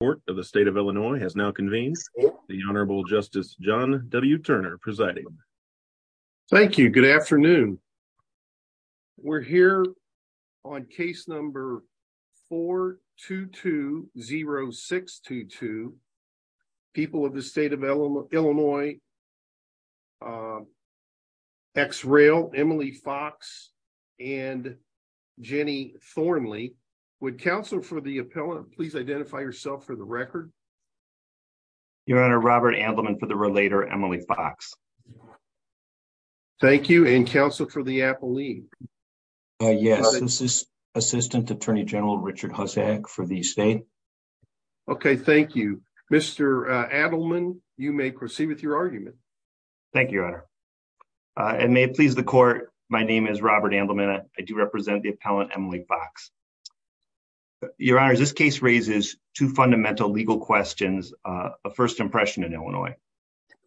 of the state of Illinois has now convened the Honorable Justice John W. Turner presiding. Thank you. Good afternoon. We're here on case number 4-2-2-0-6-2-2, people of the state of Illinois, X-Rail, Emily Fox and Jenny Thornley. Would counsel for the appellant please identify yourself for the record? Your Honor, Robert Adleman for the relator, Emily Fox. Thank you. And counsel for the appellee? Yes, this is Assistant Attorney General Richard Hussack for the state. Okay, thank you. Mr. Adleman, you may proceed with your argument. Thank you, Your Honor. And may it please the court, my name is Robert Adleman. I do represent the appellant, Emily Fox. Your Honor, this case raises two fundamental legal questions of first impression in Illinois.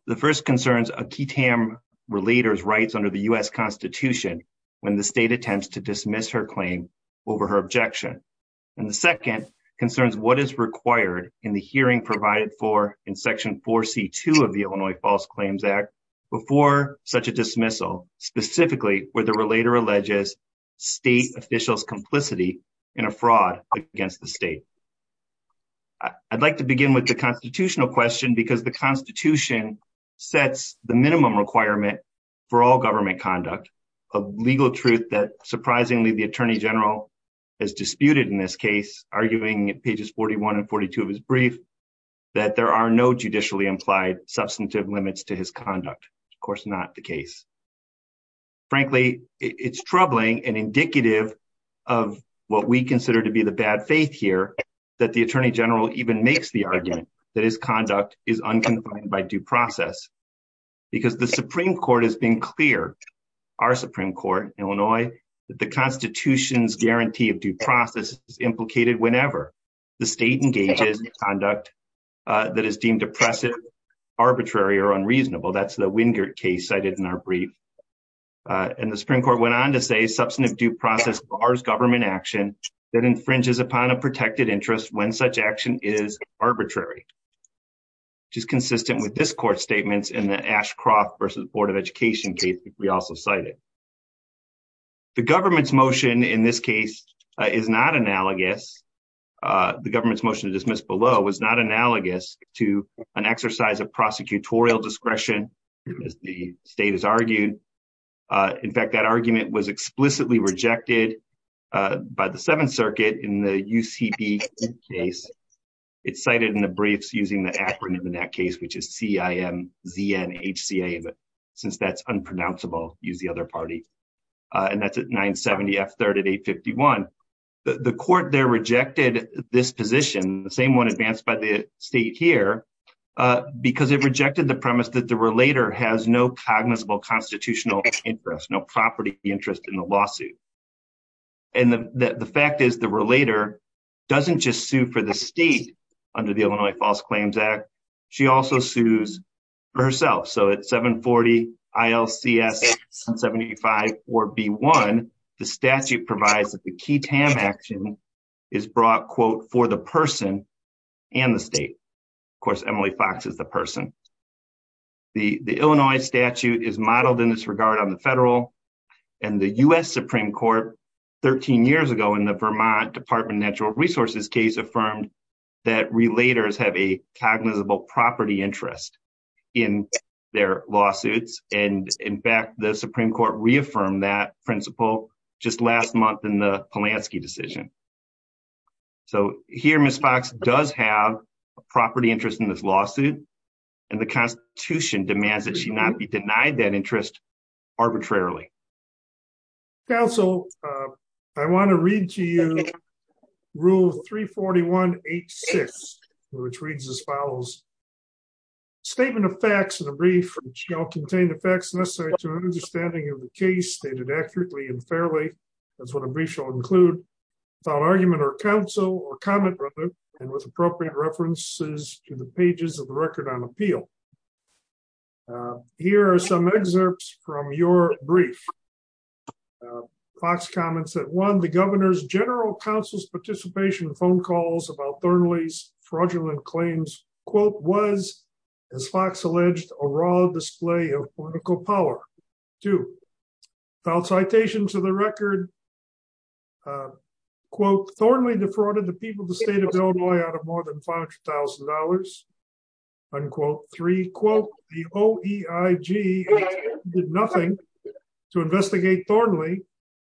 The first concerns a key Tam relator's rights under the U.S. Constitution when the state attempts to dismiss her claim over her objection. And the second concerns what is required in the hearing provided for in section 4-C-2 of the Illinois False Claims Act before such a dismissal, specifically where the relator alleges state officials complicity in a fraud against the state. I'd like to begin with the constitutional question because the Constitution sets the minimum requirement for all government conduct of legal truth that, surprisingly, the Attorney General has disputed in this case, arguing at pages 41 and 42 of his brief, that there are no judicially implied substantive limits to his conduct. Of course, not the case. Frankly, it's troubling and indicative of what we consider to be the bad faith here that the Attorney General even makes the argument that his conduct is unconfined by due process because the Supreme Court has been clear, our Supreme Court, Illinois, that the Constitution's that is deemed oppressive, arbitrary, or unreasonable. That's the Wingert case cited in our brief. And the Supreme Court went on to say substantive due process bars government action that infringes upon a protected interest when such action is arbitrary, which is consistent with this court's statements in the Ashcroft v. Board of Education case we also cited. The government's motion in this case is not analogous. The government's motion to dismiss below was not analogous to an exercise of prosecutorial discretion, as the state has argued. In fact, that argument was explicitly rejected by the Seventh Circuit in the UCB case. It's cited in the briefs using the acronym in that case, which is C-I-M-Z-N-H-C-A. Since that's unpronounceable, use the other party. And that's at 970 F-3rd at 851. The court there rejected this position, the same one advanced by the state here, because it rejected the premise that the relator has no cognizable constitutional interest, no property interest in the lawsuit. And the fact is the relator doesn't just sue for the state under the Illinois False Claims Act. She also sues herself. So at 740 I-L-C-S-75-4-B-1, the statute provides that the key TAM action is brought, quote, for the person and the state. Of course, Emily Fox is the person. The Illinois statute is modeled in this regard on the federal and the U.S. Supreme Court 13 years ago in the Vermont Department of Natural Resources case affirmed that relators have a cognizable property interest in their lawsuits. And in fact, the Supreme Court reaffirmed that principle just last month in the Polanski decision. So here, Ms. Fox does have a property interest in this lawsuit, and the Constitution demands that she not be denied that interest arbitrarily. Counsel, I want to read to you Rule 341-H-6, which reads as follows. Statement of facts in a brief shall contain the facts necessary to an understanding of the case stated accurately and fairly. That's what a brief shall include, without argument or counsel or comment rather, and with appropriate references to the pages of the record on appeal. Here are some excerpts from your brief. Fox comments that one, governor's general counsel's participation in phone calls about Thornley's fraudulent claims, quote, was, as Fox alleged, a raw display of political power. Two, without citation to the record, quote, Thornley defrauded the people of the state of Illinois out of more than $500,000, unquote. Three, quote, the OEIG did nothing to investigate Thornley.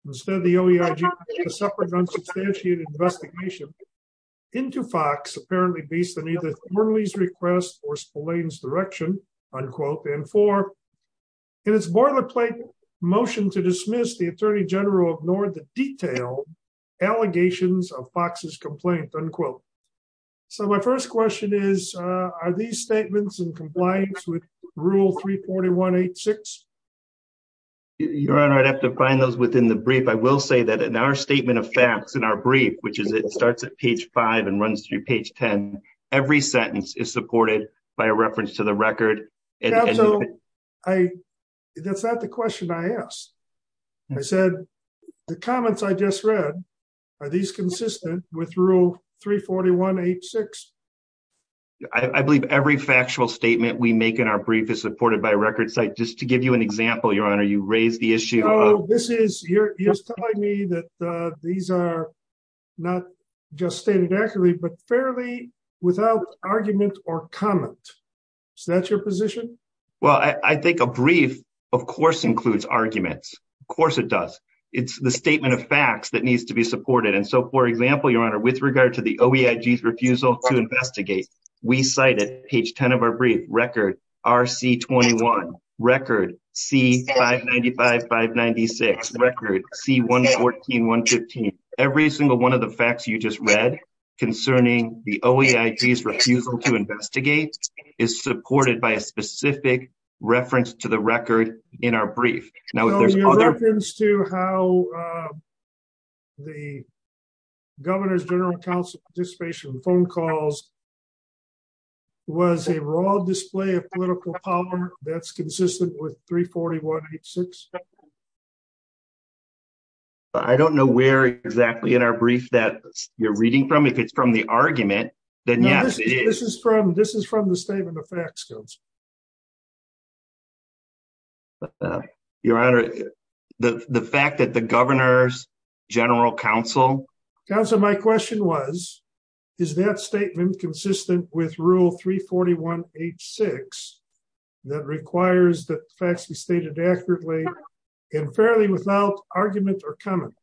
Instead, the OEIG suffered an unsubstantiated investigation into Fox, apparently based on either Thornley's request or Spillane's direction, unquote. And four, in its boilerplate motion to dismiss, the attorney general ignored the detailed allegations of Fox's complaint, unquote. So my first question is, are these statements in compliance with rule 34186? Your honor, I'd have to find those within the brief. I will say that in our statement of facts in our brief, which is it starts at page five and runs through page 10, every sentence is supported by a reference to the record. And so I, that's not the question I asked. I said, the comments I just read, are these consistent with rule 34186? I believe every factual statement we make in our brief is supported by a record site. Just to give you an example, your honor, you raised the issue. No, this is, you're telling me that these are not just stated accurately, but fairly without argument or comment. Is that your position? Well, I think a brief, of course, includes arguments. Of course it does. It's the statement of facts that needs to be supported. And so, for example, your honor, with regard to the OEIG's refusal to investigate, we cite at page 10 of our brief, record RC21, record C595, 596, record C114, 115. Every single one of the OEIG's refusal to investigate is supported by a specific reference to the record in our brief. Now, your reference to how the governor's general counsel participation in phone calls was a raw display of political power that's consistent with 34186? I don't know where exactly in our brief that you're reading from. If it's from the argument, this is from the statement of facts. Your honor, the fact that the governor's general counsel... Counsel, my question was, is that statement consistent with rule 34186 that requires that facts be stated accurately and fairly without argument or comment?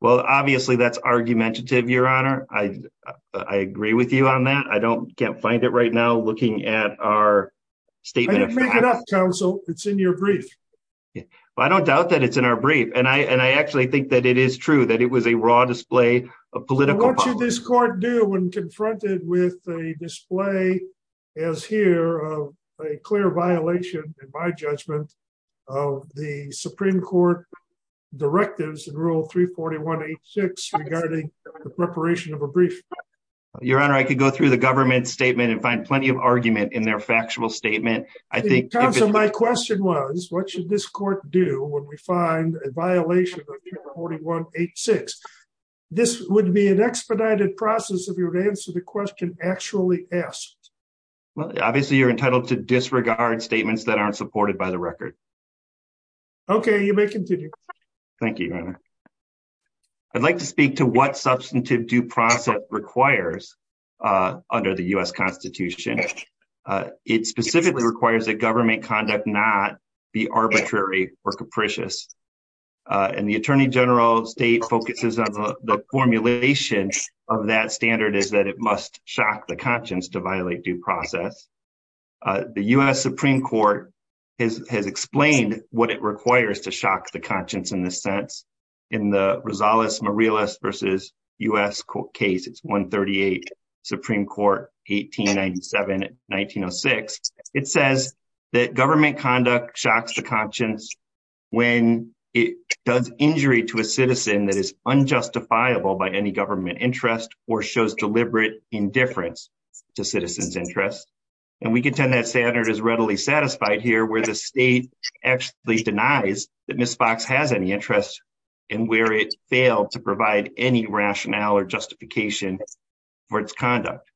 Well, obviously, that's argumentative, your honor. I agree with you on that. I can't find it right now looking at our statement of facts. I didn't make it up, counsel. It's in your brief. Well, I don't doubt that it's in our brief. And I actually think that it is true, that it was a raw display of political power. What should this court do when confronted with a display as here of a clear violation, in my judgment, of the Supreme Court directives in rule 34186 regarding the preparation of a brief? Your honor, I could go through the government statement and find plenty of argument in their factual statement. I think... Counsel, my question was, what should this court do when we find a expedited process of your answer to the question actually asked? Well, obviously, you're entitled to disregard statements that aren't supported by the record. Okay, you may continue. Thank you, your honor. I'd like to speak to what substantive due process requires under the U.S. Constitution. It specifically requires that government conduct not be arbitrary or capricious. And the Attorney General's state focuses on the formulation of that standard is that it must shock the conscience to violate due process. The U.S. Supreme Court has explained what it requires to shock the conscience in this sense. In the Rosales-Morales v. U.S. case, it's 138, Supreme Court, 1897-1906. It says that government conduct shocks the conscience when it does injury to a citizen that is unjustifiable by any government interest or shows deliberate indifference to citizens' interests. And we contend that standard is readily satisfied here where the state actually denies that Ms. Fox has any interest and where it failed to provide any rationale or justification for its conduct.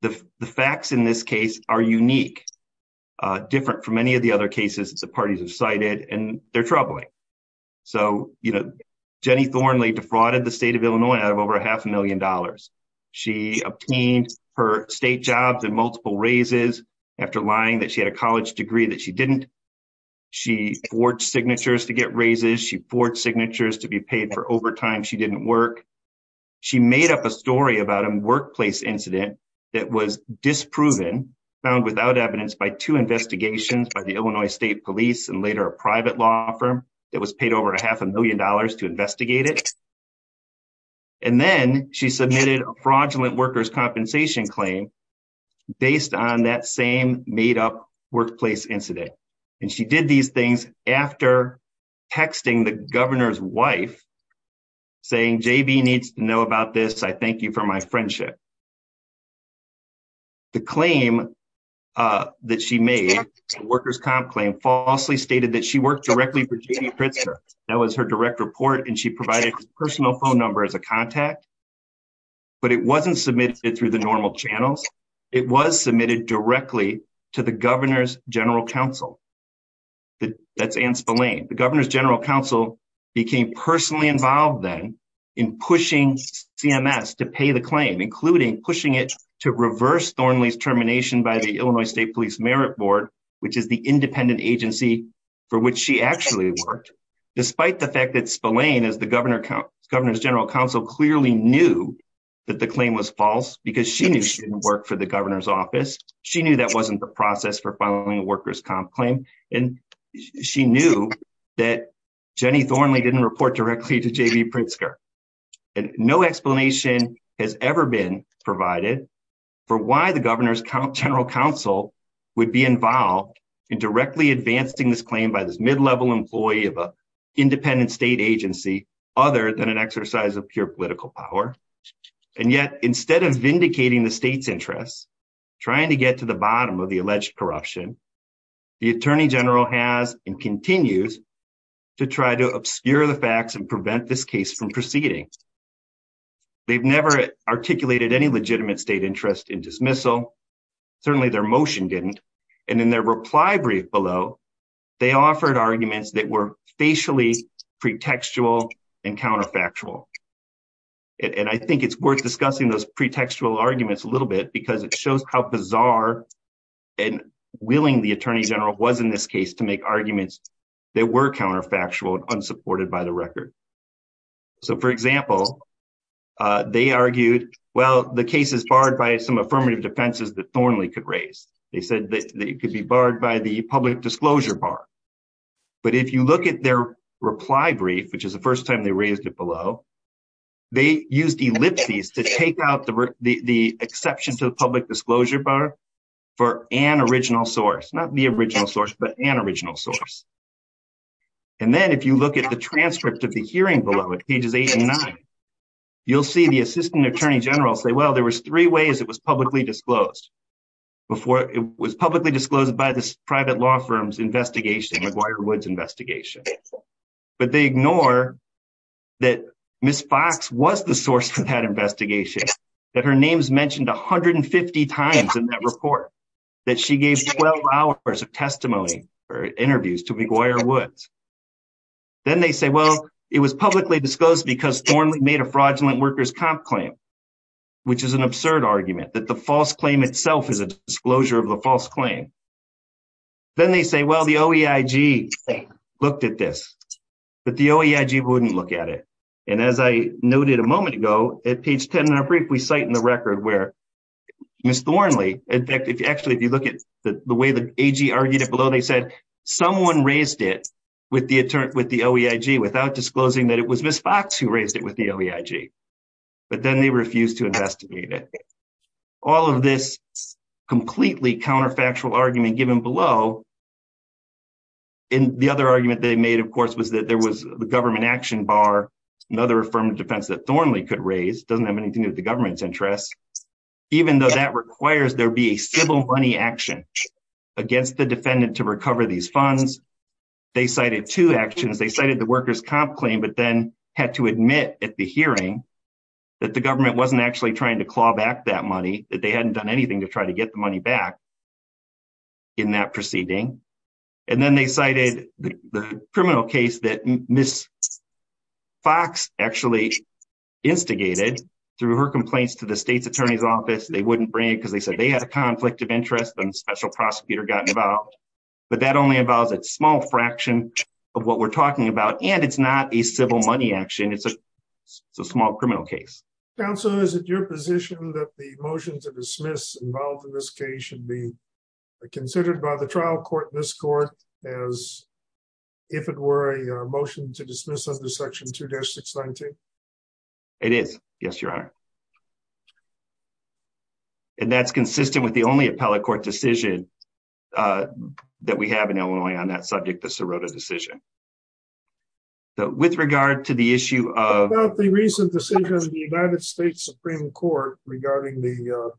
The facts in this case are unique, different from any of the other cases the parties have cited, and they're troubling. So, you know, Jenny Thornley defrauded the state of Illinois out of over a half a million dollars. She obtained her state jobs and multiple raises after lying that she had a college degree that she didn't. She forged signatures to get raises. She forged signatures to be paid for overtime she didn't work. She made up a story about a workplace incident that was disproven, found without evidence, by two investigations by the Illinois State Police and later a private law firm that was paid over a half a million dollars to investigate it. And then she submitted a fraudulent workers' compensation claim based on that same made-up workplace incident. And she did these things after texting the governor's wife saying, J.B. needs to know about this. I thank you for my friendship. The claim that she made, the workers' comp claim, falsely stated that she worked directly for J.B. Pritzker. That was her direct report, and she provided her personal phone number as a contact. But it wasn't submitted through the normal channels. It was submitted directly to the governor's general counsel. That's Anne Spillane. The governor's general counsel became personally involved then in pushing CMS to pay the claim, including pushing it to reverse Thornley's termination by the Illinois State Police Merit Board, which is the independent agency for which she actually worked, despite the fact that Spillane, as the governor's general counsel, clearly knew that the claim was false because she knew she didn't work for the governor's office. She knew that wasn't the process for filing a workers' comp claim. And she knew that Jenny Thornley didn't report directly to J.B. Pritzker. And no explanation has ever been provided for why the governor's general counsel would be involved in directly advancing this claim by this mid-level employee of an independent state agency, other than an exercise of pure political power. And yet, instead of vindicating the state's option, the attorney general has and continues to try to obscure the facts and prevent this case from proceeding. They've never articulated any legitimate state interest in dismissal. Certainly their motion didn't. And in their reply brief below, they offered arguments that were facially pretextual and counterfactual. And I think it's worth discussing those pretextual willing the attorney general was in this case to make arguments that were counterfactual and unsupported by the record. So, for example, they argued, well, the case is barred by some affirmative defenses that Thornley could raise. They said that it could be barred by the public disclosure bar. But if you look at their reply brief, which is the first time they raised it below, they used ellipses to take out the exception to the public disclosure bar for an original source. Not the original source, but an original source. And then if you look at the transcript of the hearing below at pages eight and nine, you'll see the assistant attorney general say, well, there was three ways it was publicly disclosed. Before it was publicly disclosed by this private law firm's investigation, McGuire Woods investigation. But they ignore that Ms. Fox was the source of that investigation, that her name's mentioned 150 times in that report, that she gave 12 hours of testimony or interviews to McGuire Woods. Then they say, well, it was publicly disclosed because Thornley made a fraudulent workers' comp claim, which is an absurd argument that the false claim itself is a disclosure of the false claim. Then they say, well, the OEIG looked at this, but the OEIG wouldn't look at it. And as I noted a record where Ms. Thornley, in fact, actually, if you look at the way the AG argued it below, they said someone raised it with the OEIG without disclosing that it was Ms. Fox who raised it with the OEIG. But then they refused to investigate it. All of this completely counterfactual argument given below. And the other argument they made, of course, was that there was the government action bar, another affirmative defense that Thornley could raise, doesn't have anything to do with the workers' comp claim. It's not in the government's interest, even though that requires there be a civil money action against the defendant to recover these funds. They cited two actions. They cited the workers' comp claim, but then had to admit at the hearing that the government wasn't actually trying to claw back that money, that they hadn't done anything to try to get the money back in that proceeding. And then they cited the criminal case that Ms. Fox actually instigated through her complaints to the state's attorney's office. They wouldn't bring it because they said they had a conflict of interest and a special prosecutor got involved. But that only involves a small fraction of what we're talking about. And it's not a civil money action. It's a small criminal case. Counsel, is it your position that the motion to dismiss involved in this case should be considered by the trial court in this court as if it were a motion to dismiss under Section 2-619? It is. Yes, Your Honor. And that's consistent with the only appellate court decision that we have in Illinois on that subject, the Sirota decision. So with regard to the issue of... About the recent decision of the United States Supreme Court regarding the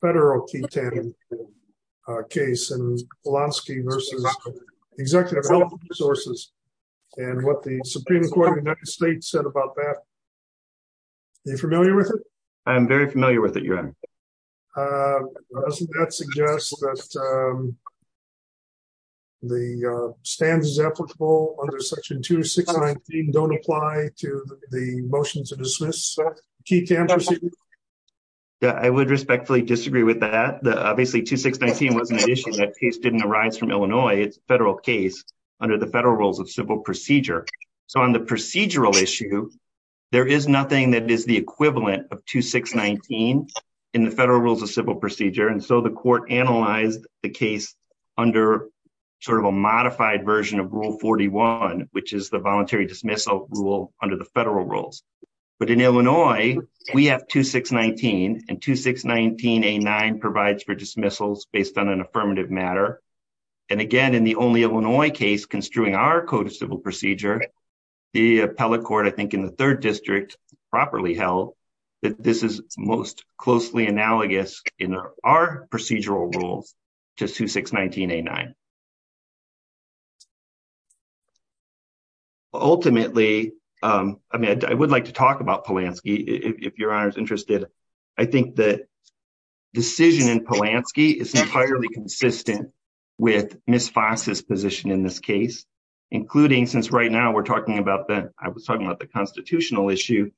federal T-10 case and Polanski versus Executive Health Resources, and what the Supreme Court of the United States said about that. Are you familiar with it? I'm very familiar with it, Your Honor. Doesn't that suggest that the standards applicable under Section 2-619 don't apply to the motion to dismiss T-10 procedure? Yeah, I would respectfully disagree with that. Obviously, 2-619 wasn't an issue. That case didn't arise from Illinois. It's a federal case under the federal rules of civil procedure. So on the procedural issue, there is nothing that the federal rules of civil procedure. And so the court analyzed the case under a modified version of Rule 41, which is the voluntary dismissal rule under the federal rules. But in Illinois, we have 2-619, and 2-619A9 provides for dismissals based on an affirmative matter. And again, in the only Illinois case construing our code of civil procedure, the appellate court, I think in the third district, properly held that this is most closely analogous in our procedural rules to 2-619A9. Ultimately, I mean, I would like to talk about Polanski, if Your Honor is interested. I think the decision in Polanski is entirely consistent with Ms. Fox's position in this case, including since right now we're talking about the, I was talking about the constitutional issue.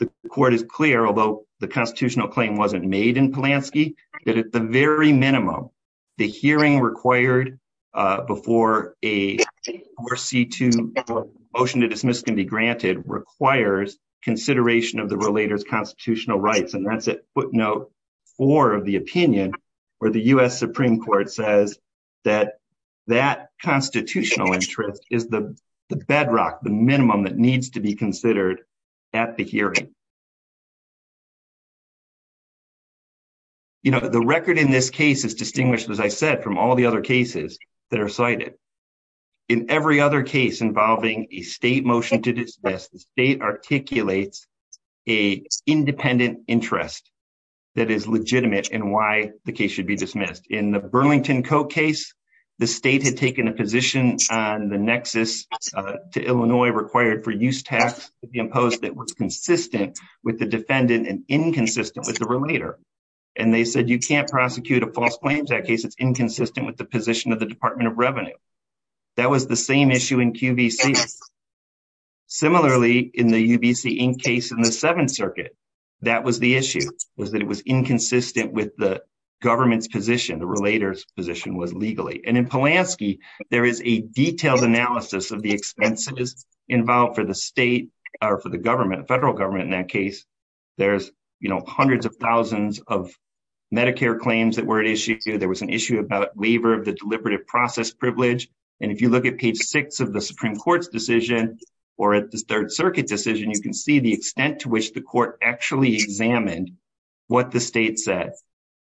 The court is clear, although the constitutional claim wasn't made in Polanski, that at the very minimum, the hearing required before a 4C2 motion to dismiss can be granted requires consideration of the relator's constitutional rights. And that's at footnote four of the opinion, where the U.S. Supreme Court says that that constitutional interest is the bedrock, the minimum that needs to be considered at the hearing. You know, the record in this case is distinguished, as I said, from all the other cases that are cited. In every other case involving a state motion to dismiss, the state articulates a independent interest that is legitimate in why the case should be dismissed. In the Burlington Co. case, the state had taken a position on the nexus to Illinois required for use tax to be imposed that was consistent with the defendant and inconsistent with the relator. And they said, you can't prosecute a false claim in that case. It's inconsistent with the position of the Seventh Circuit. That was the issue, was that it was inconsistent with the government's position, the relator's position was legally. And in Polanski, there is a detailed analysis of the expenses involved for the state or for the government, federal government in that case. There's, you know, hundreds of thousands of Medicare claims that were at issue. There was an issue about labor, the deliberative process privilege. And if you look at page six of the actually examined what the state said,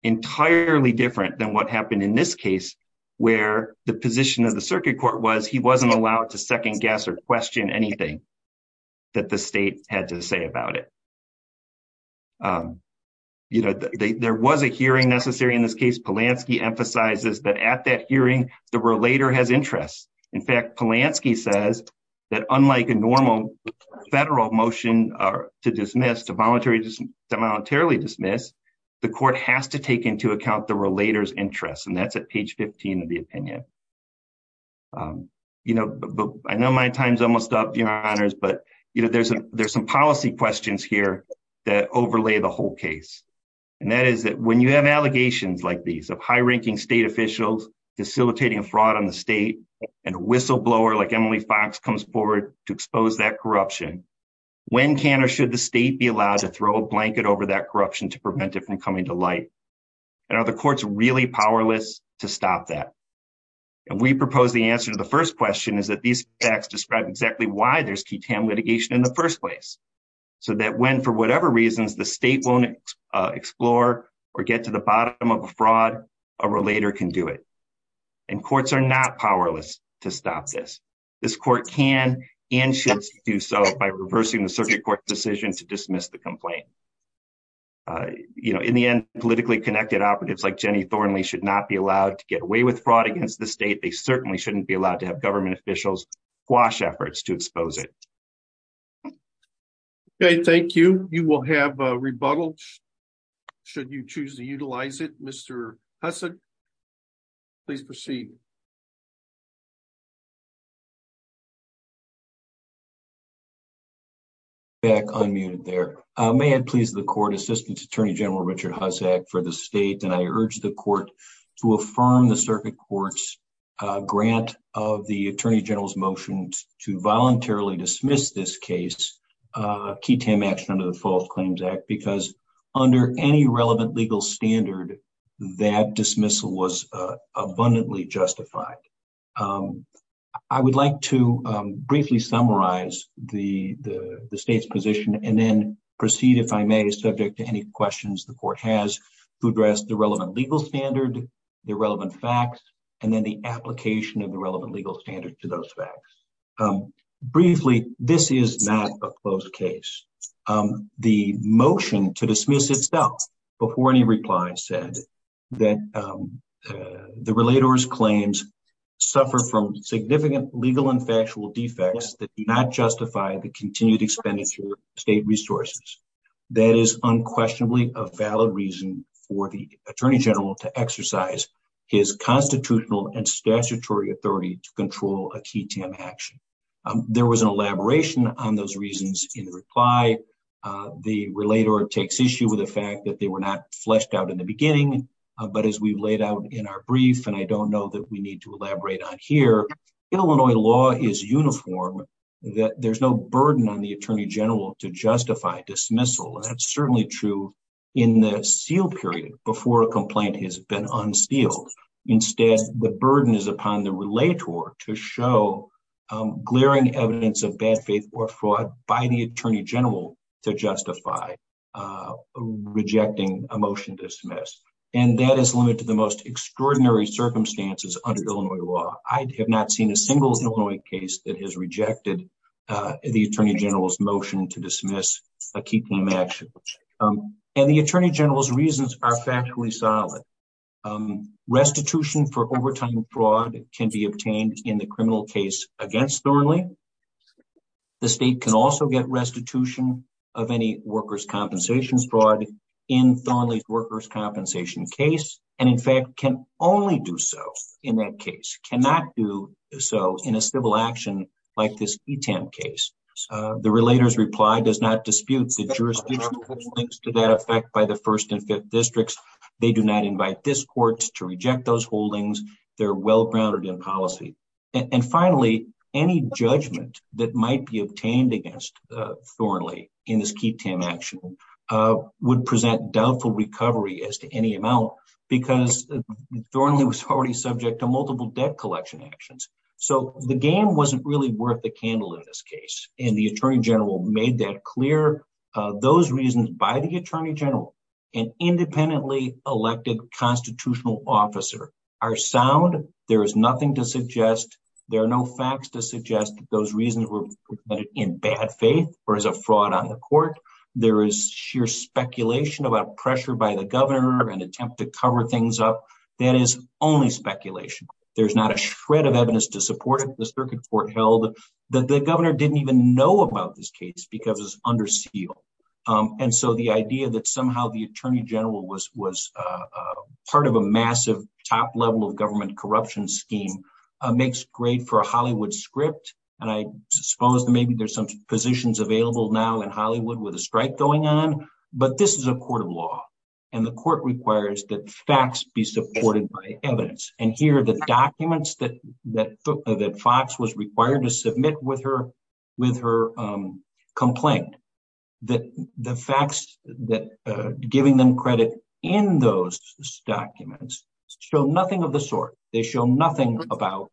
entirely different than what happened in this case, where the position of the circuit court was he wasn't allowed to second guess or question anything that the state had to say about it. You know, there was a hearing necessary in this case, Polanski emphasizes that at that hearing, the relator has interest. In fact, Polanski says that unlike a normal federal motion to dismiss, to voluntarily dismiss, the court has to take into account the relator's interest. And that's at page 15 of the opinion. You know, I know my time's almost up, Your Honors, but you know, there's a there's some policy questions here that overlay the whole case. And that is that when you have allegations like these of high ranking state officials, facilitating a fraud on the state, and a Fox comes forward to expose that corruption, when can or should the state be allowed to throw a blanket over that corruption to prevent it from coming to light? And are the courts really powerless to stop that? And we propose the answer to the first question is that these facts describe exactly why there's key tam litigation in the first place. So that when for whatever reasons the state won't explore or get to the bottom of a fraud, a relator can do it. And courts are not powerless to stop this. This court can and should do so by reversing the circuit court decision to dismiss the complaint. You know, in the end, politically connected operatives like Jenny Thornley should not be allowed to get away with fraud against the state, they certainly shouldn't be allowed to have government officials quash efforts to expose it. Okay, thank you. You will have rebuttal. Should you choose to utilize it, Mr. Husson? Please proceed. Back unmuted there. May I please the court assistance Attorney General Richard Hussack for the state and I urge the court to affirm the circuit courts grant of the Attorney General's motions to voluntarily dismiss this case, key tam action under the False Claims Act because under any relevant legal standard, that dismissal was abundantly justified. I would like to briefly summarize the state's position and then proceed if I may subject to any questions the court has to address the relevant legal standard, the relevant facts, and then the application of the relevant legal standard to those facts. Briefly, this is not a closed case. The motion to dismiss itself before any reply said that the relator's claims suffer from significant legal and factual defects that do not justify the continued expenditure of state resources. That is unquestionably a valid reason for the Attorney General to exercise his constitutional and statutory authority to control a key tam action. There was an elaboration on those reasons in reply. The relator takes issue with the fact that they were not fleshed out in the beginning but as we've laid out in our brief and I don't know that we need to elaborate on here, Illinois law is uniform that there's no burden on the Attorney General to justify dismissal and that's certainly true in the seal period before a complaint has been unsealed. Instead, the burden is upon the relator to show glaring evidence of bad faith or fraud by the Attorney General to justify rejecting a motion to dismiss and that is limited to the most extraordinary circumstances under Illinois law. I have not seen a single Illinois case that has rejected the Attorney General's motion to dismiss a key tam action and the Attorney General's factually solid. Restitution for overtime fraud can be obtained in the criminal case against Thornley. The state can also get restitution of any workers' compensations fraud in Thornley's workers' compensation case and in fact can only do so in that case, cannot do so in a civil action like this key tam case. The relator's reply does not dispute the jurisdiction which links to that by the first and fifth districts. They do not invite this court to reject those holdings. They're well grounded in policy and finally any judgment that might be obtained against Thornley in this key tam action would present doubtful recovery as to any amount because Thornley was already subject to multiple debt collection actions. So the game wasn't really worth the candle in this case and the Attorney General made that clear. Those reasons by the an independently elected constitutional officer are sound. There is nothing to suggest, there are no facts to suggest that those reasons were in bad faith or as a fraud on the court. There is sheer speculation about pressure by the governor and attempt to cover things up. That is only speculation. There's not a shred of evidence to support it. The circuit court held that the governor didn't even know about this case because it's under seal. And so the idea that somehow the Attorney General was part of a massive top level of government corruption scheme makes great for a Hollywood script. And I suppose maybe there's some positions available now in Hollywood with a strike going on, but this is a court of law and the court requires that facts be supported by evidence. And here the documents that Fox was required to submit with her complaint, that the facts that giving them credit in those documents show nothing of the sort. They show nothing about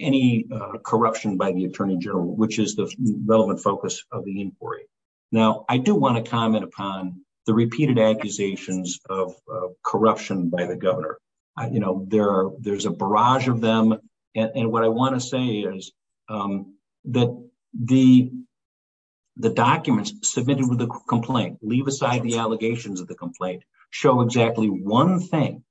any corruption by the Attorney General, which is the relevant focus of the inquiry. Now, I do want to comment upon the repeated accusations of corruption by the with the complaint, leave aside the allegations of the complaint, show exactly one thing.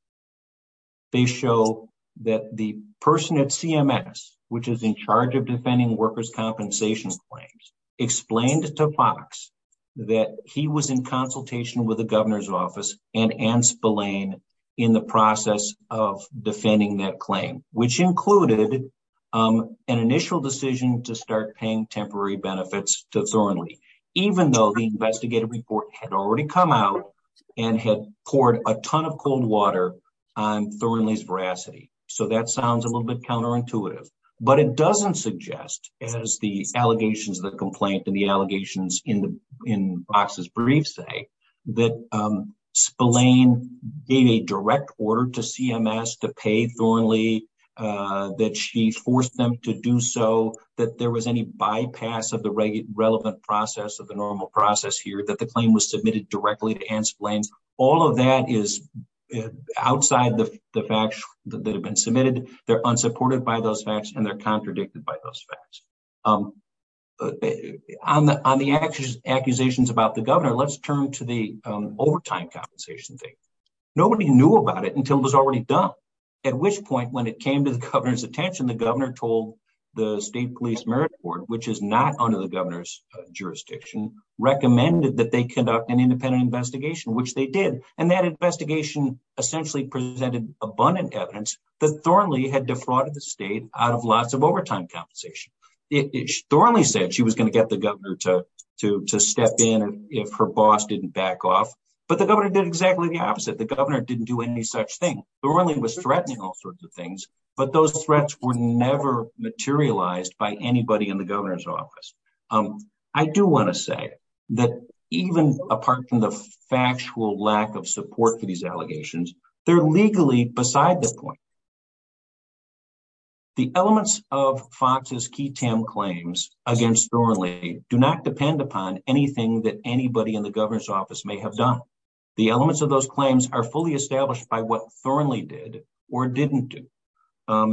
They show that the person at CMS, which is in charge of defending workers' compensation claims, explained to Fox that he was in consultation with the governor's office and Anne Spillane in the process of defending that claim, which included an initial decision to start paying temporary benefits to Thornley, even though the investigative report had already come out and had poured a ton of cold water on Thornley's veracity. So that sounds a little bit counterintuitive, but it doesn't suggest, as the allegations of the complaint and the allegations in Fox's brief say, that Spillane gave a direct order to CMS to pay Thornley, that she forced them to do so, that there was any bypass of the relevant process of the normal process here, that the claim was submitted directly to Anne Spillane. All of that is outside the facts that have been submitted. They're unsupported by those facts and they're contradicted by those facts. On the accusations about the governor, let's turn to the overtime compensation thing. Nobody knew about it until it was already done, at which point, when it came to the governor's attention, the governor told the state police merit board, which is not under the governor's jurisdiction, recommended that they conduct an independent investigation, which they did. And that investigation essentially presented abundant evidence that Thornley had defrauded the state out of lots of overtime compensation. Thornley said she was going to get the governor to step in if her boss didn't back off, but the governor did exactly the opposite. The governor didn't do any thing. Thornley was threatening all sorts of things, but those threats were never materialized by anybody in the governor's office. I do want to say that even apart from the factual lack of support for these allegations, they're legally beside this point. The elements of Fox's key TAM claims against Thornley do not depend upon anything that anybody in the governor's office may have done. The elements of those claims are fully established by what Thornley did or didn't do.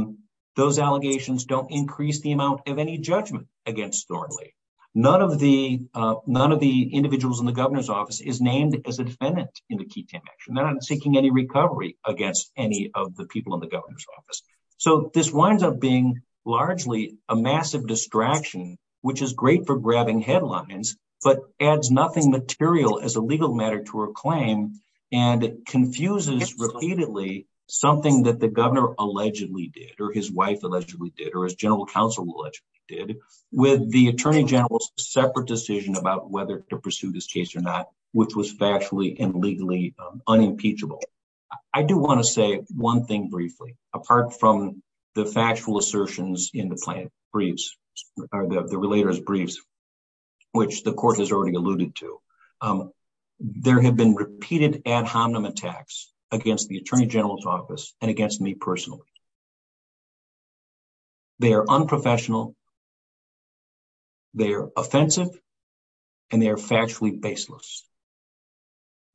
Those allegations don't increase the amount of any judgment against Thornley. None of the individuals in the governor's office is named as a defendant in the key TAM action. They're not seeking any recovery against any of the people in the governor's office. So this winds up being largely a massive distraction, which is great for grabbing headlines, but adds nothing material as a legal matter to her claim and confuses repeatedly something that the governor allegedly did or his wife allegedly did or his general counsel allegedly did with the attorney general's separate decision about whether to pursue this case or not, which was factually and legally unimpeachable. I do want to say one thing briefly, apart from the factual assertions in the plaintiff's briefs or the relator's briefs, which the court has already alluded to, there have been repeated ad hominem attacks against the attorney general's office and against me personally. They are unprofessional, they are offensive, and they are factually baseless.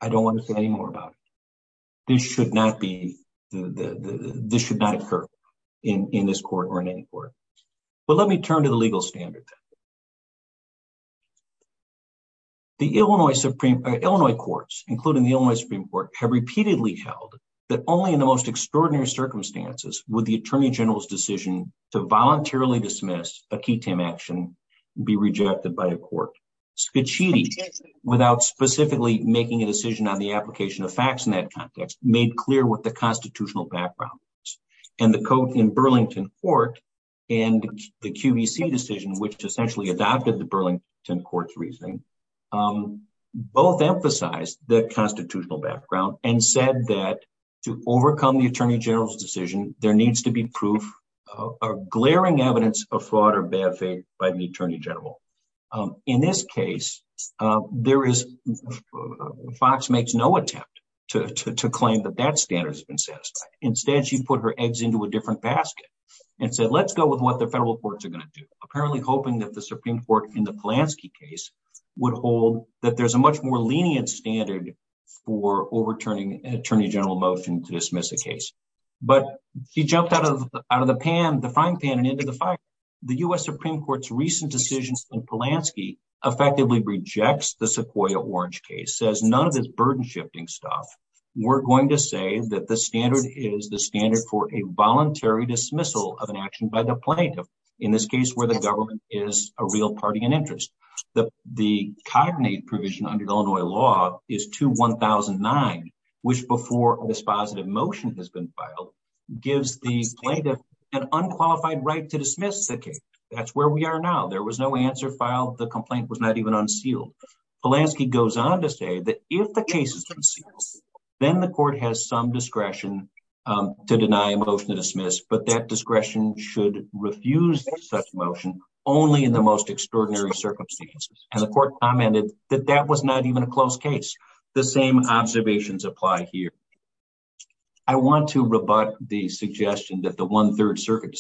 I don't want to say any more about it. This should not be, this should not occur in this court or in any court. But let me turn to the legal standard. The Illinois Supreme, Illinois courts, including the Illinois Supreme Court, have repeatedly held that only in the most extraordinary circumstances would the attorney general's decision to voluntarily dismiss a key TAM action be rejected by the court. Scicchiti, without specifically making a decision on the application of facts in that context, made clear what the constitutional background was. And the court in Burlington Court and the QVC decision, which essentially adopted the Burlington Court's reasoning, both emphasized the constitutional background and said that to overcome the attorney general's decision, there needs to be proof or glaring evidence of fraud or bad faith by the attorney general. In this case, there is, Fox makes no attempt to claim that that standard has been satisfied. Instead, she put her eggs into a different basket and said, let's go with what the federal courts are going to do, apparently hoping that the Supreme Court in the Polanski case would hold that there's a much more lenient standard for overturning an attorney general motion to dismiss a case. But he jumped out of the pan, the frying pan, and into the fire. The U.S. Supreme Court's recent decisions on the Sequoia Orange case says none of this burden-shifting stuff. We're going to say that the standard is the standard for a voluntary dismissal of an action by the plaintiff, in this case where the government is a real party in interest. The cognate provision under Illinois law is 2-1009, which before this positive motion has been filed, gives the plaintiff an unqualified right to dismiss the case. That's where we are now. There was no answer filed. The complaint was not even unsealed. Polanski goes on to say that if the case is unsealed, then the court has some discretion to deny a motion to dismiss, but that discretion should refuse such a motion only in the most extraordinary circumstances. And the court commented that that was not even a close case. The same observations apply here. I want to rebut the suggestion that the One Third same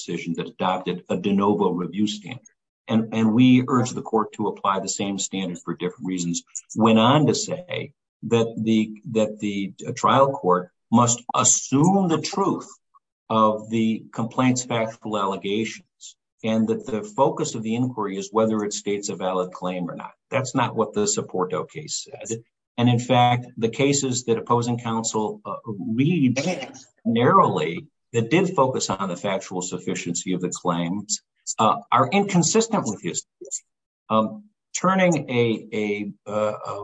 standard for different reasons went on to say that the trial court must assume the truth of the complaint's factual allegations, and that the focus of the inquiry is whether it states a valid claim or not. That's not what the Sopporto case says. And in fact, the cases that opposing counsel read narrowly that did focus on the factual sufficiency of the claims are inconsistent with the case. Turning a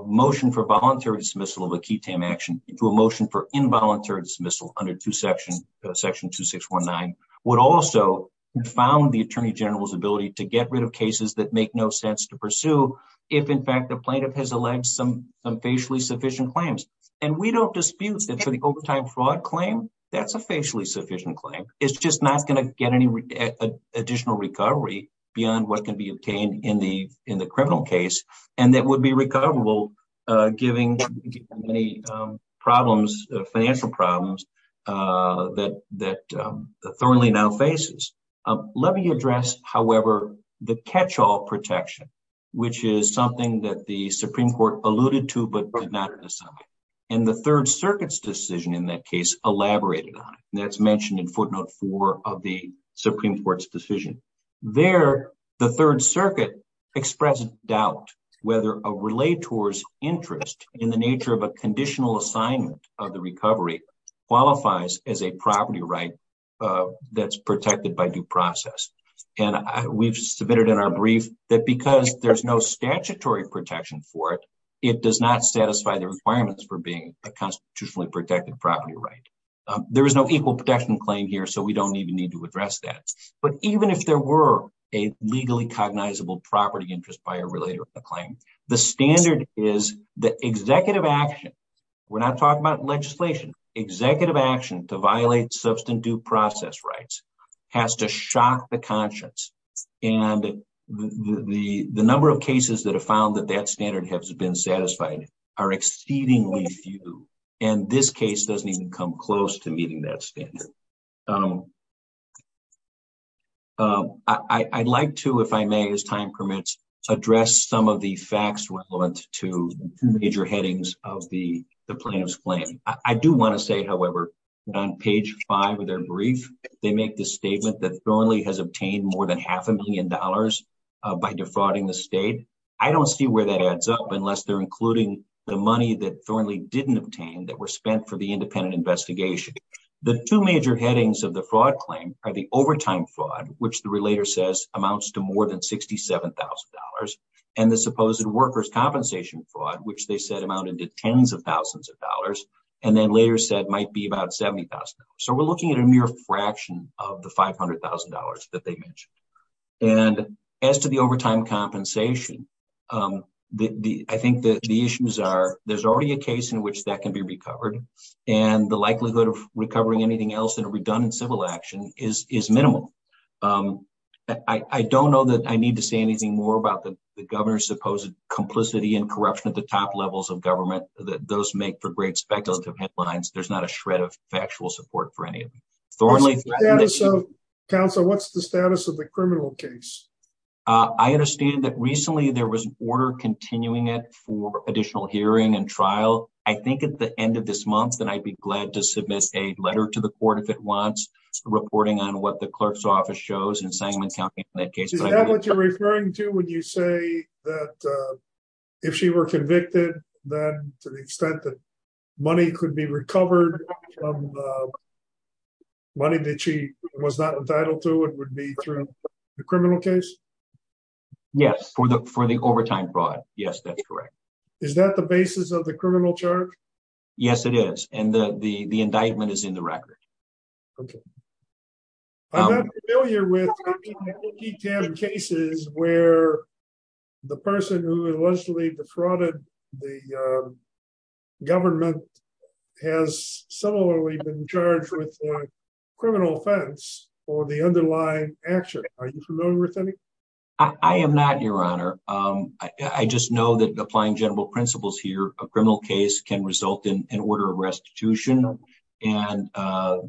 motion for voluntary dismissal of a key TAM action into a motion for involuntary dismissal under Section 2619 would also confound the Attorney General's ability to get rid of cases that make no sense to pursue if, in fact, the plaintiff has alleged some facially sufficient claims. And we don't dispute that for the overtime fraud claim, that's a facially sufficient claim. It's just not going to get any additional recovery beyond what can be obtained in the criminal case. And that would be recoverable, giving many problems, financial problems, that Thornley now faces. Let me address, however, the catch-all protection, which is something that the Supreme Court alluded to, but not necessarily. And the Third Circuit's decision in that case elaborated on it, and that's mentioned in footnote four of the Supreme Court's decision. There, the Third Circuit expressed doubt whether a relator's interest in the nature of a conditional assignment of the recovery qualifies as a property right that's protected by due process. And we've submitted in our brief that because there's no statutory protection for it, it does not satisfy the requirements for being a constitutionally protected property right. There is no equal protection claim here, so we don't even need to address that. But even if there were a legally cognizable property interest by a relator of the claim, the standard is that executive action, we're not talking about legislation, executive action to violate substantive due process rights has to shock the conscience. And the number of cases that have found that that standard has been satisfied are exceedingly few. And this case doesn't even come close to meeting that standard. I'd like to, if I may, as time permits, address some of the facts relevant to the major headings of the plaintiff's claim. I do want to say, however, that on page five of their brief, they make the statement that Thornley has obtained more than half a million dollars by defrauding the state. I don't see where that adds up unless they're including the money that Thornley didn't obtain that were spent for the independent investigation. The two major headings of the fraud claim are the overtime fraud, which the relator says amounts to more than $67,000, and the supposed workers' compensation fraud, which they said amounted to tens of thousands of dollars, and then later said might be about $70,000. So we're looking at a mere fraction of the $500,000 that they mentioned. And as to the overtime compensation, I think that the issues are, there's already a case in which that can be recovered, and the likelihood of recovering anything else in a redundant civil action is minimal. I don't know that I need to say anything more about the governor's supposed complicity and corruption at the top levels of government that those make for great speculative headlines. There's not a Thornley. Council, what's the status of the criminal case? I understand that recently there was an order continuing it for additional hearing and trial. I think at the end of this month that I'd be glad to submit a letter to the court if it wants reporting on what the clerk's office shows in Sangamon County in that case. Is that what you're referring to when you say that if she was convicted, then to the extent that money could be recovered, money that she was not entitled to, it would be through the criminal case? Yes, for the overtime fraud. Yes, that's correct. Is that the basis of the criminal charge? Yes, it is. And the indictment is in the record. Okay. I'm not familiar with cases where the person who allegedly defrauded the government has similarly been charged with a criminal offense or the underlying action. Are you familiar with any? I am not, Your Honor. I just know that applying general principles here, a criminal case can result in an order of restitution. And that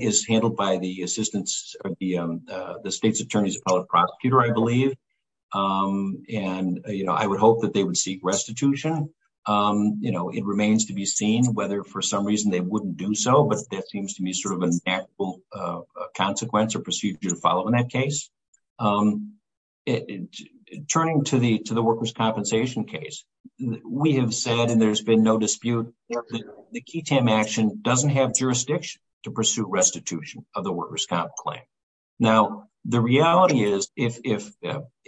is handled by the assistance of the state's attorney's appellate prosecutor, I believe. And I would hope that they would seek restitution. It remains to be seen whether for some reason they wouldn't do so, but that seems to me sort of a natural consequence or procedure to follow in that case. Turning to the workers' compensation case, we have said, and there's been no dispute, the KETAM action doesn't have jurisdiction to pursue restitution of the workers' comp claim. Now, the reality is, if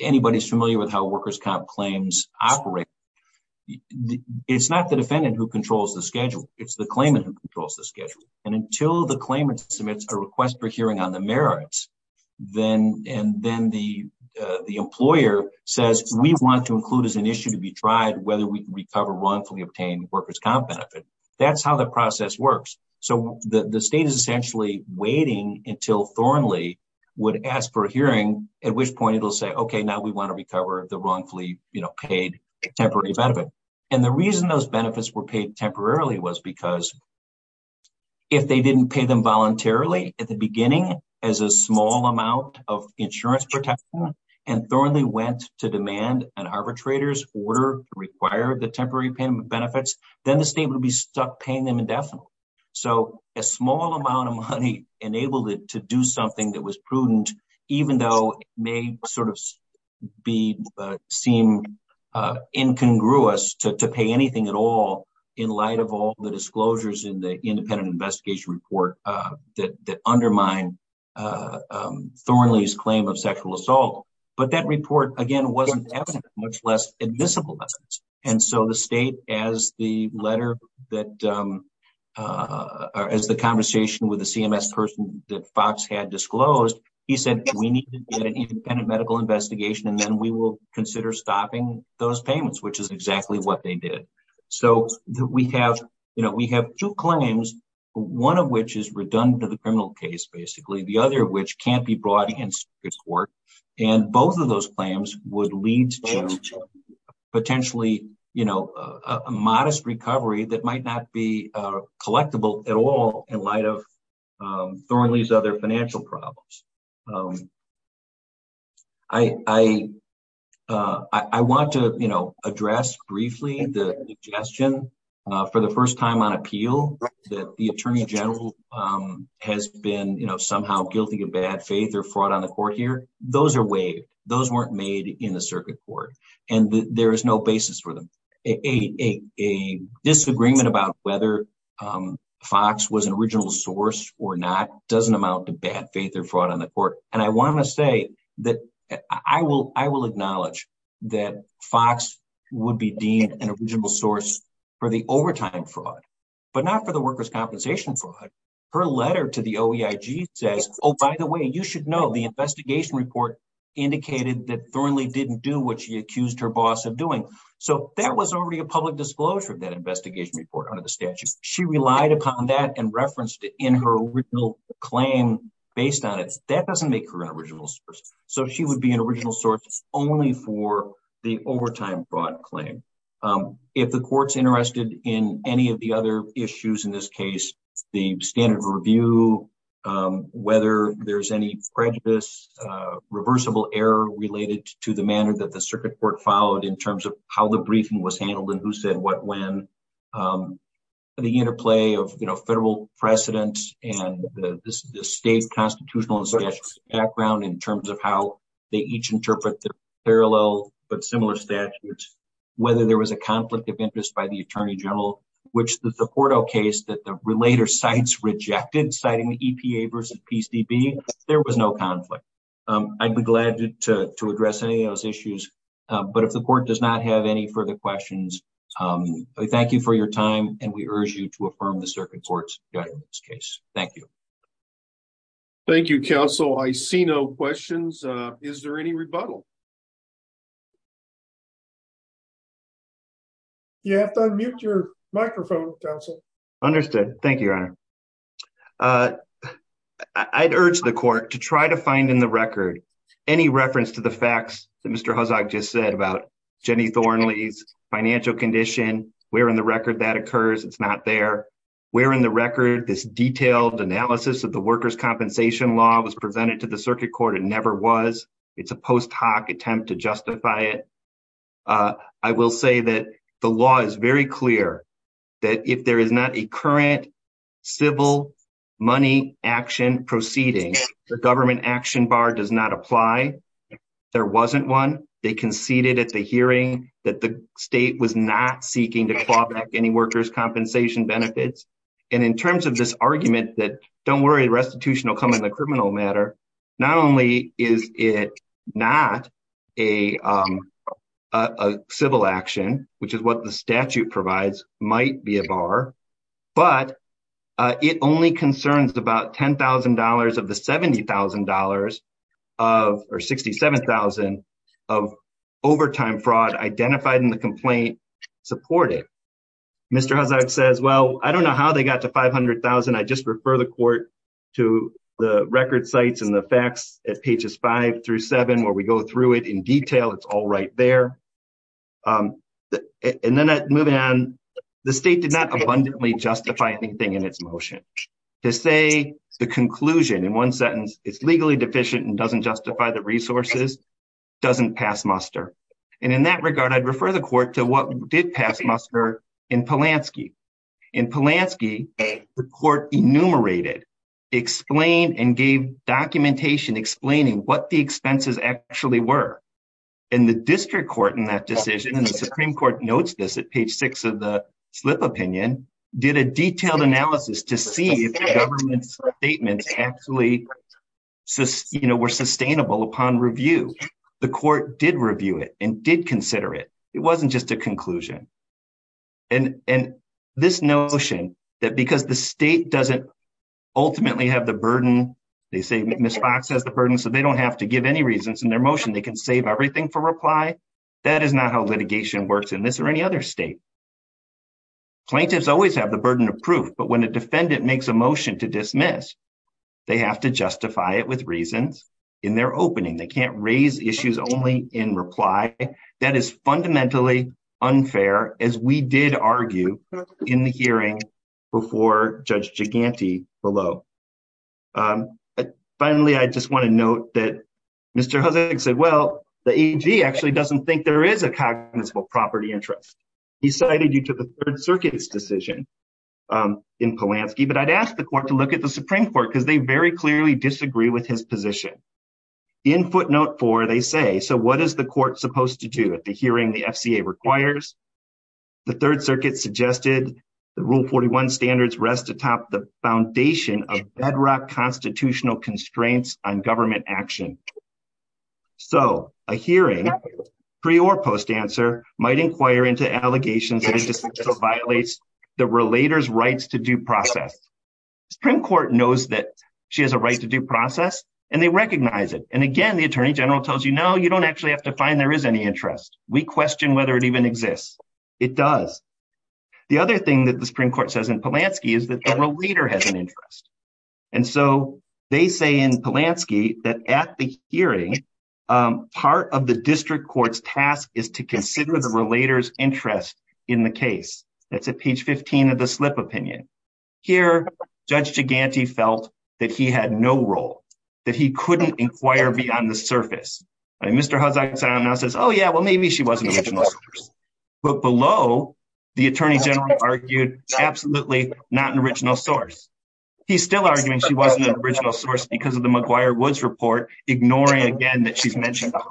anybody's familiar with how workers' comp claims operate, it's not the defendant who controls the schedule, it's the claimant who controls the schedule. And until the claimant submits a request for hearing on the merits, and then the employer says, we want to include as an issue to be tried whether we can recover wrongfully obtained workers' comp benefit, that's how the process works. So the state is essentially waiting until Thornley would ask for a hearing, at which point it'll say, okay, now we want to recover the wrongfully paid temporary benefit. And the reason those benefits were paid temporarily was because if they didn't pay them voluntarily at the beginning as a small amount of insurance protection, and Thornley went to demand an arbitrator's order to require the temporary benefits, then the state would be stuck paying them indefinitely. So a small amount of money enabled it to do something that was prudent, even though it may sort of seem incongruous to pay anything at all in light of all the disclosures in the independent investigation report that undermine Thornley's claim of sexual assault. But that report, again, wasn't evident, much less admissible. And so the state, as the letter that, as the conversation with the CMS person that Fox had disclosed, he said, we need to get an independent medical investigation, and then we will consider stopping those payments, which is what they did. So we have two claims, one of which is redundant to the criminal case, basically, the other of which can't be brought against this court. And both of those claims would lead to potentially a modest recovery that might not be collectible at all in light of other financial problems. I want to address briefly the suggestion for the first time on appeal that the Attorney General has been somehow guilty of bad faith or fraud on the court here. Those are waived. Those weren't made in the circuit court. And there is no basis for them. A disagreement about whether Fox was an original source or not doesn't amount to bad faith or fraud on the court. And I want to say that I will acknowledge that Fox would be deemed an original source for the overtime fraud, but not for the workers' compensation fraud. Her letter to the OEIG says, oh, by the way, you should know the investigation report indicated that Thornley didn't do what she accused her boss of doing. So that was already a public disclosure of that investigation report under the statute. She relied upon that and referenced it in her original claim based on it. That doesn't make her an original source. So she would be an original source only for the overtime fraud claim. If the court's interested in any of the other issues in this case, the standard of review, whether there's any prejudice, reversible error related to the manner that the circuit court followed in terms of how the briefing was handled and who said what when, the interplay of federal precedents and the state constitutional background in terms of how they each interpret the parallel but similar statutes, whether there was a conflict of objection, there was no conflict. I would be glad to address any of those issues. But if the court does not have any further questions, thank you for your time and we urge you to affirm the circuit court's judgment in this case. Thank you. Thank you, counsel. I see no questions. Is there any rebuttal? You have to unmute your microphone, counsel. Understood. Thank you, your honor. I'd urge the court to try to find in the record any reference to the facts that Mr. Huzog just said about Jenny Thornley's financial condition. We're in the record that occurs. It's not there. We're in the record. This detailed analysis of the workers' compensation law was presented to the circuit court. It never was. It's a post hoc attempt to justify it. I will say that the law is very clear that if there is not a current civil money action proceeding, the government action bar does not apply. There wasn't one. They conceded at the hearing that the state was not seeking to claw back any workers' compensation benefits. And in terms of this argument that don't worry, restitution will come in the criminal matter. Not only is it not a civil action, which is what the statute provides, might be a bar, but it only concerns about $10,000 of the $70,000 or $67,000 of overtime fraud identified in the complaint supported. Mr. Huzog says, well, I don't know how they got to $500,000. I just refer the court to the record sites and the facts at pages five through seven where we go through it in detail. It's all right there. And then moving on, the state did not abundantly justify anything in its motion. To say the conclusion in one sentence, it's legally deficient and doesn't justify the resources, doesn't pass muster. And in that regard, I'd refer the court to what did pass muster in Polanski. In Polanski, the court enumerated, explained and gave documentation explaining what the expenses actually were. And the district court in that decision, and the Supreme Court notes this at page six of the slip opinion, did a detailed analysis to see if the government's statements actually were sustainable upon review. The court did review it and did consider it. It wasn't just a conclusion. And this notion that because the state doesn't ultimately have the burden, they say Ms. Fox has the burden, so they don't have to give any reasons in their motion. They can save everything for reply. That is not how litigation works in this or any other state. Plaintiffs always have the burden of proof, but when a defendant makes a motion to dismiss, they have to justify it with reasons in their opening. They can't raise issues only in reply. That is fundamentally unfair, as we did argue in the hearing before Judge Giganti below. Finally, I just want to note that Mr. Hussig said, well, the AG actually doesn't think there is a cognizable property interest. He cited you to the Third Circuit's decision in Polanski, but I'd ask the court to look at the Supreme Court because they very clearly disagree with his position. In footnote four, they say, so what is the court supposed to do at the hearing the FCA requires? The Third Circuit suggested the Rule 41 standards rest atop the foundation of bedrock constitutional constraints on government action. So a hearing, pre or post answer, might inquire into allegations that it violates the relator's rights to due process. Supreme Court knows that she has a and again, the Attorney General tells you, no, you don't actually have to find there is any interest. We question whether it even exists. It does. The other thing that the Supreme Court says in Polanski is that the relator has an interest. And so they say in Polanski that at the hearing, part of the district court's task is to consider the relator's interest in the case. That's at opinion. Here, Judge Giganti felt that he had no role, that he couldn't inquire beyond the surface. And Mr. Huzzock now says, oh, yeah, well, maybe she was an original source. But below, the Attorney General argued absolutely not an original source. He's still arguing she wasn't an original source because of the McGuire-Woods report, ignoring again that she's made counterfactual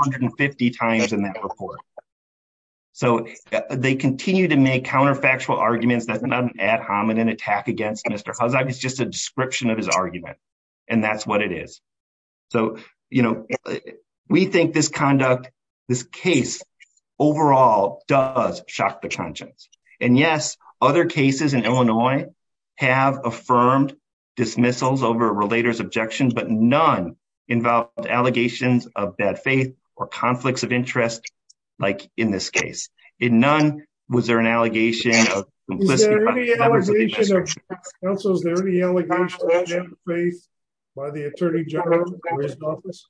arguments. That's not an ad hominem attack against Mr. Huzzock. It's just a description of his argument. And that's what it is. So, you know, we think this conduct, this case overall does shock the conscience. And yes, other cases in Illinois have affirmed dismissals over relator's objections, but none involved allegations of bad faith or conflicts of interest, like in this case. In none, was there an allegation of complicity? Is there any allegation of bad faith by the Attorney General or his office?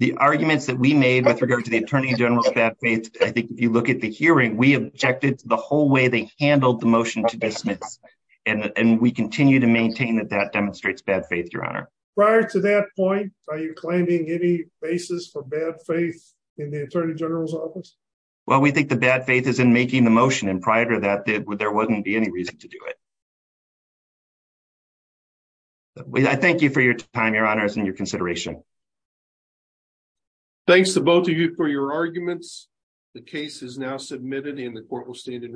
The arguments that we made with regard to the Attorney General's bad faith, I think if you look at the hearing, we objected to the whole way they handled the motion to dismiss. And we continue to maintain that that demonstrates bad faith, Your Honor. Prior to that point, are you claiming any basis for bad faith in the Attorney General's office? Well, we think the bad faith is in making the motion. And prior to that, there wouldn't be any reason to do it. I thank you for your time, Your Honor, and your consideration. Thanks to both of you for your arguments. The case is now submitted and the court will stand in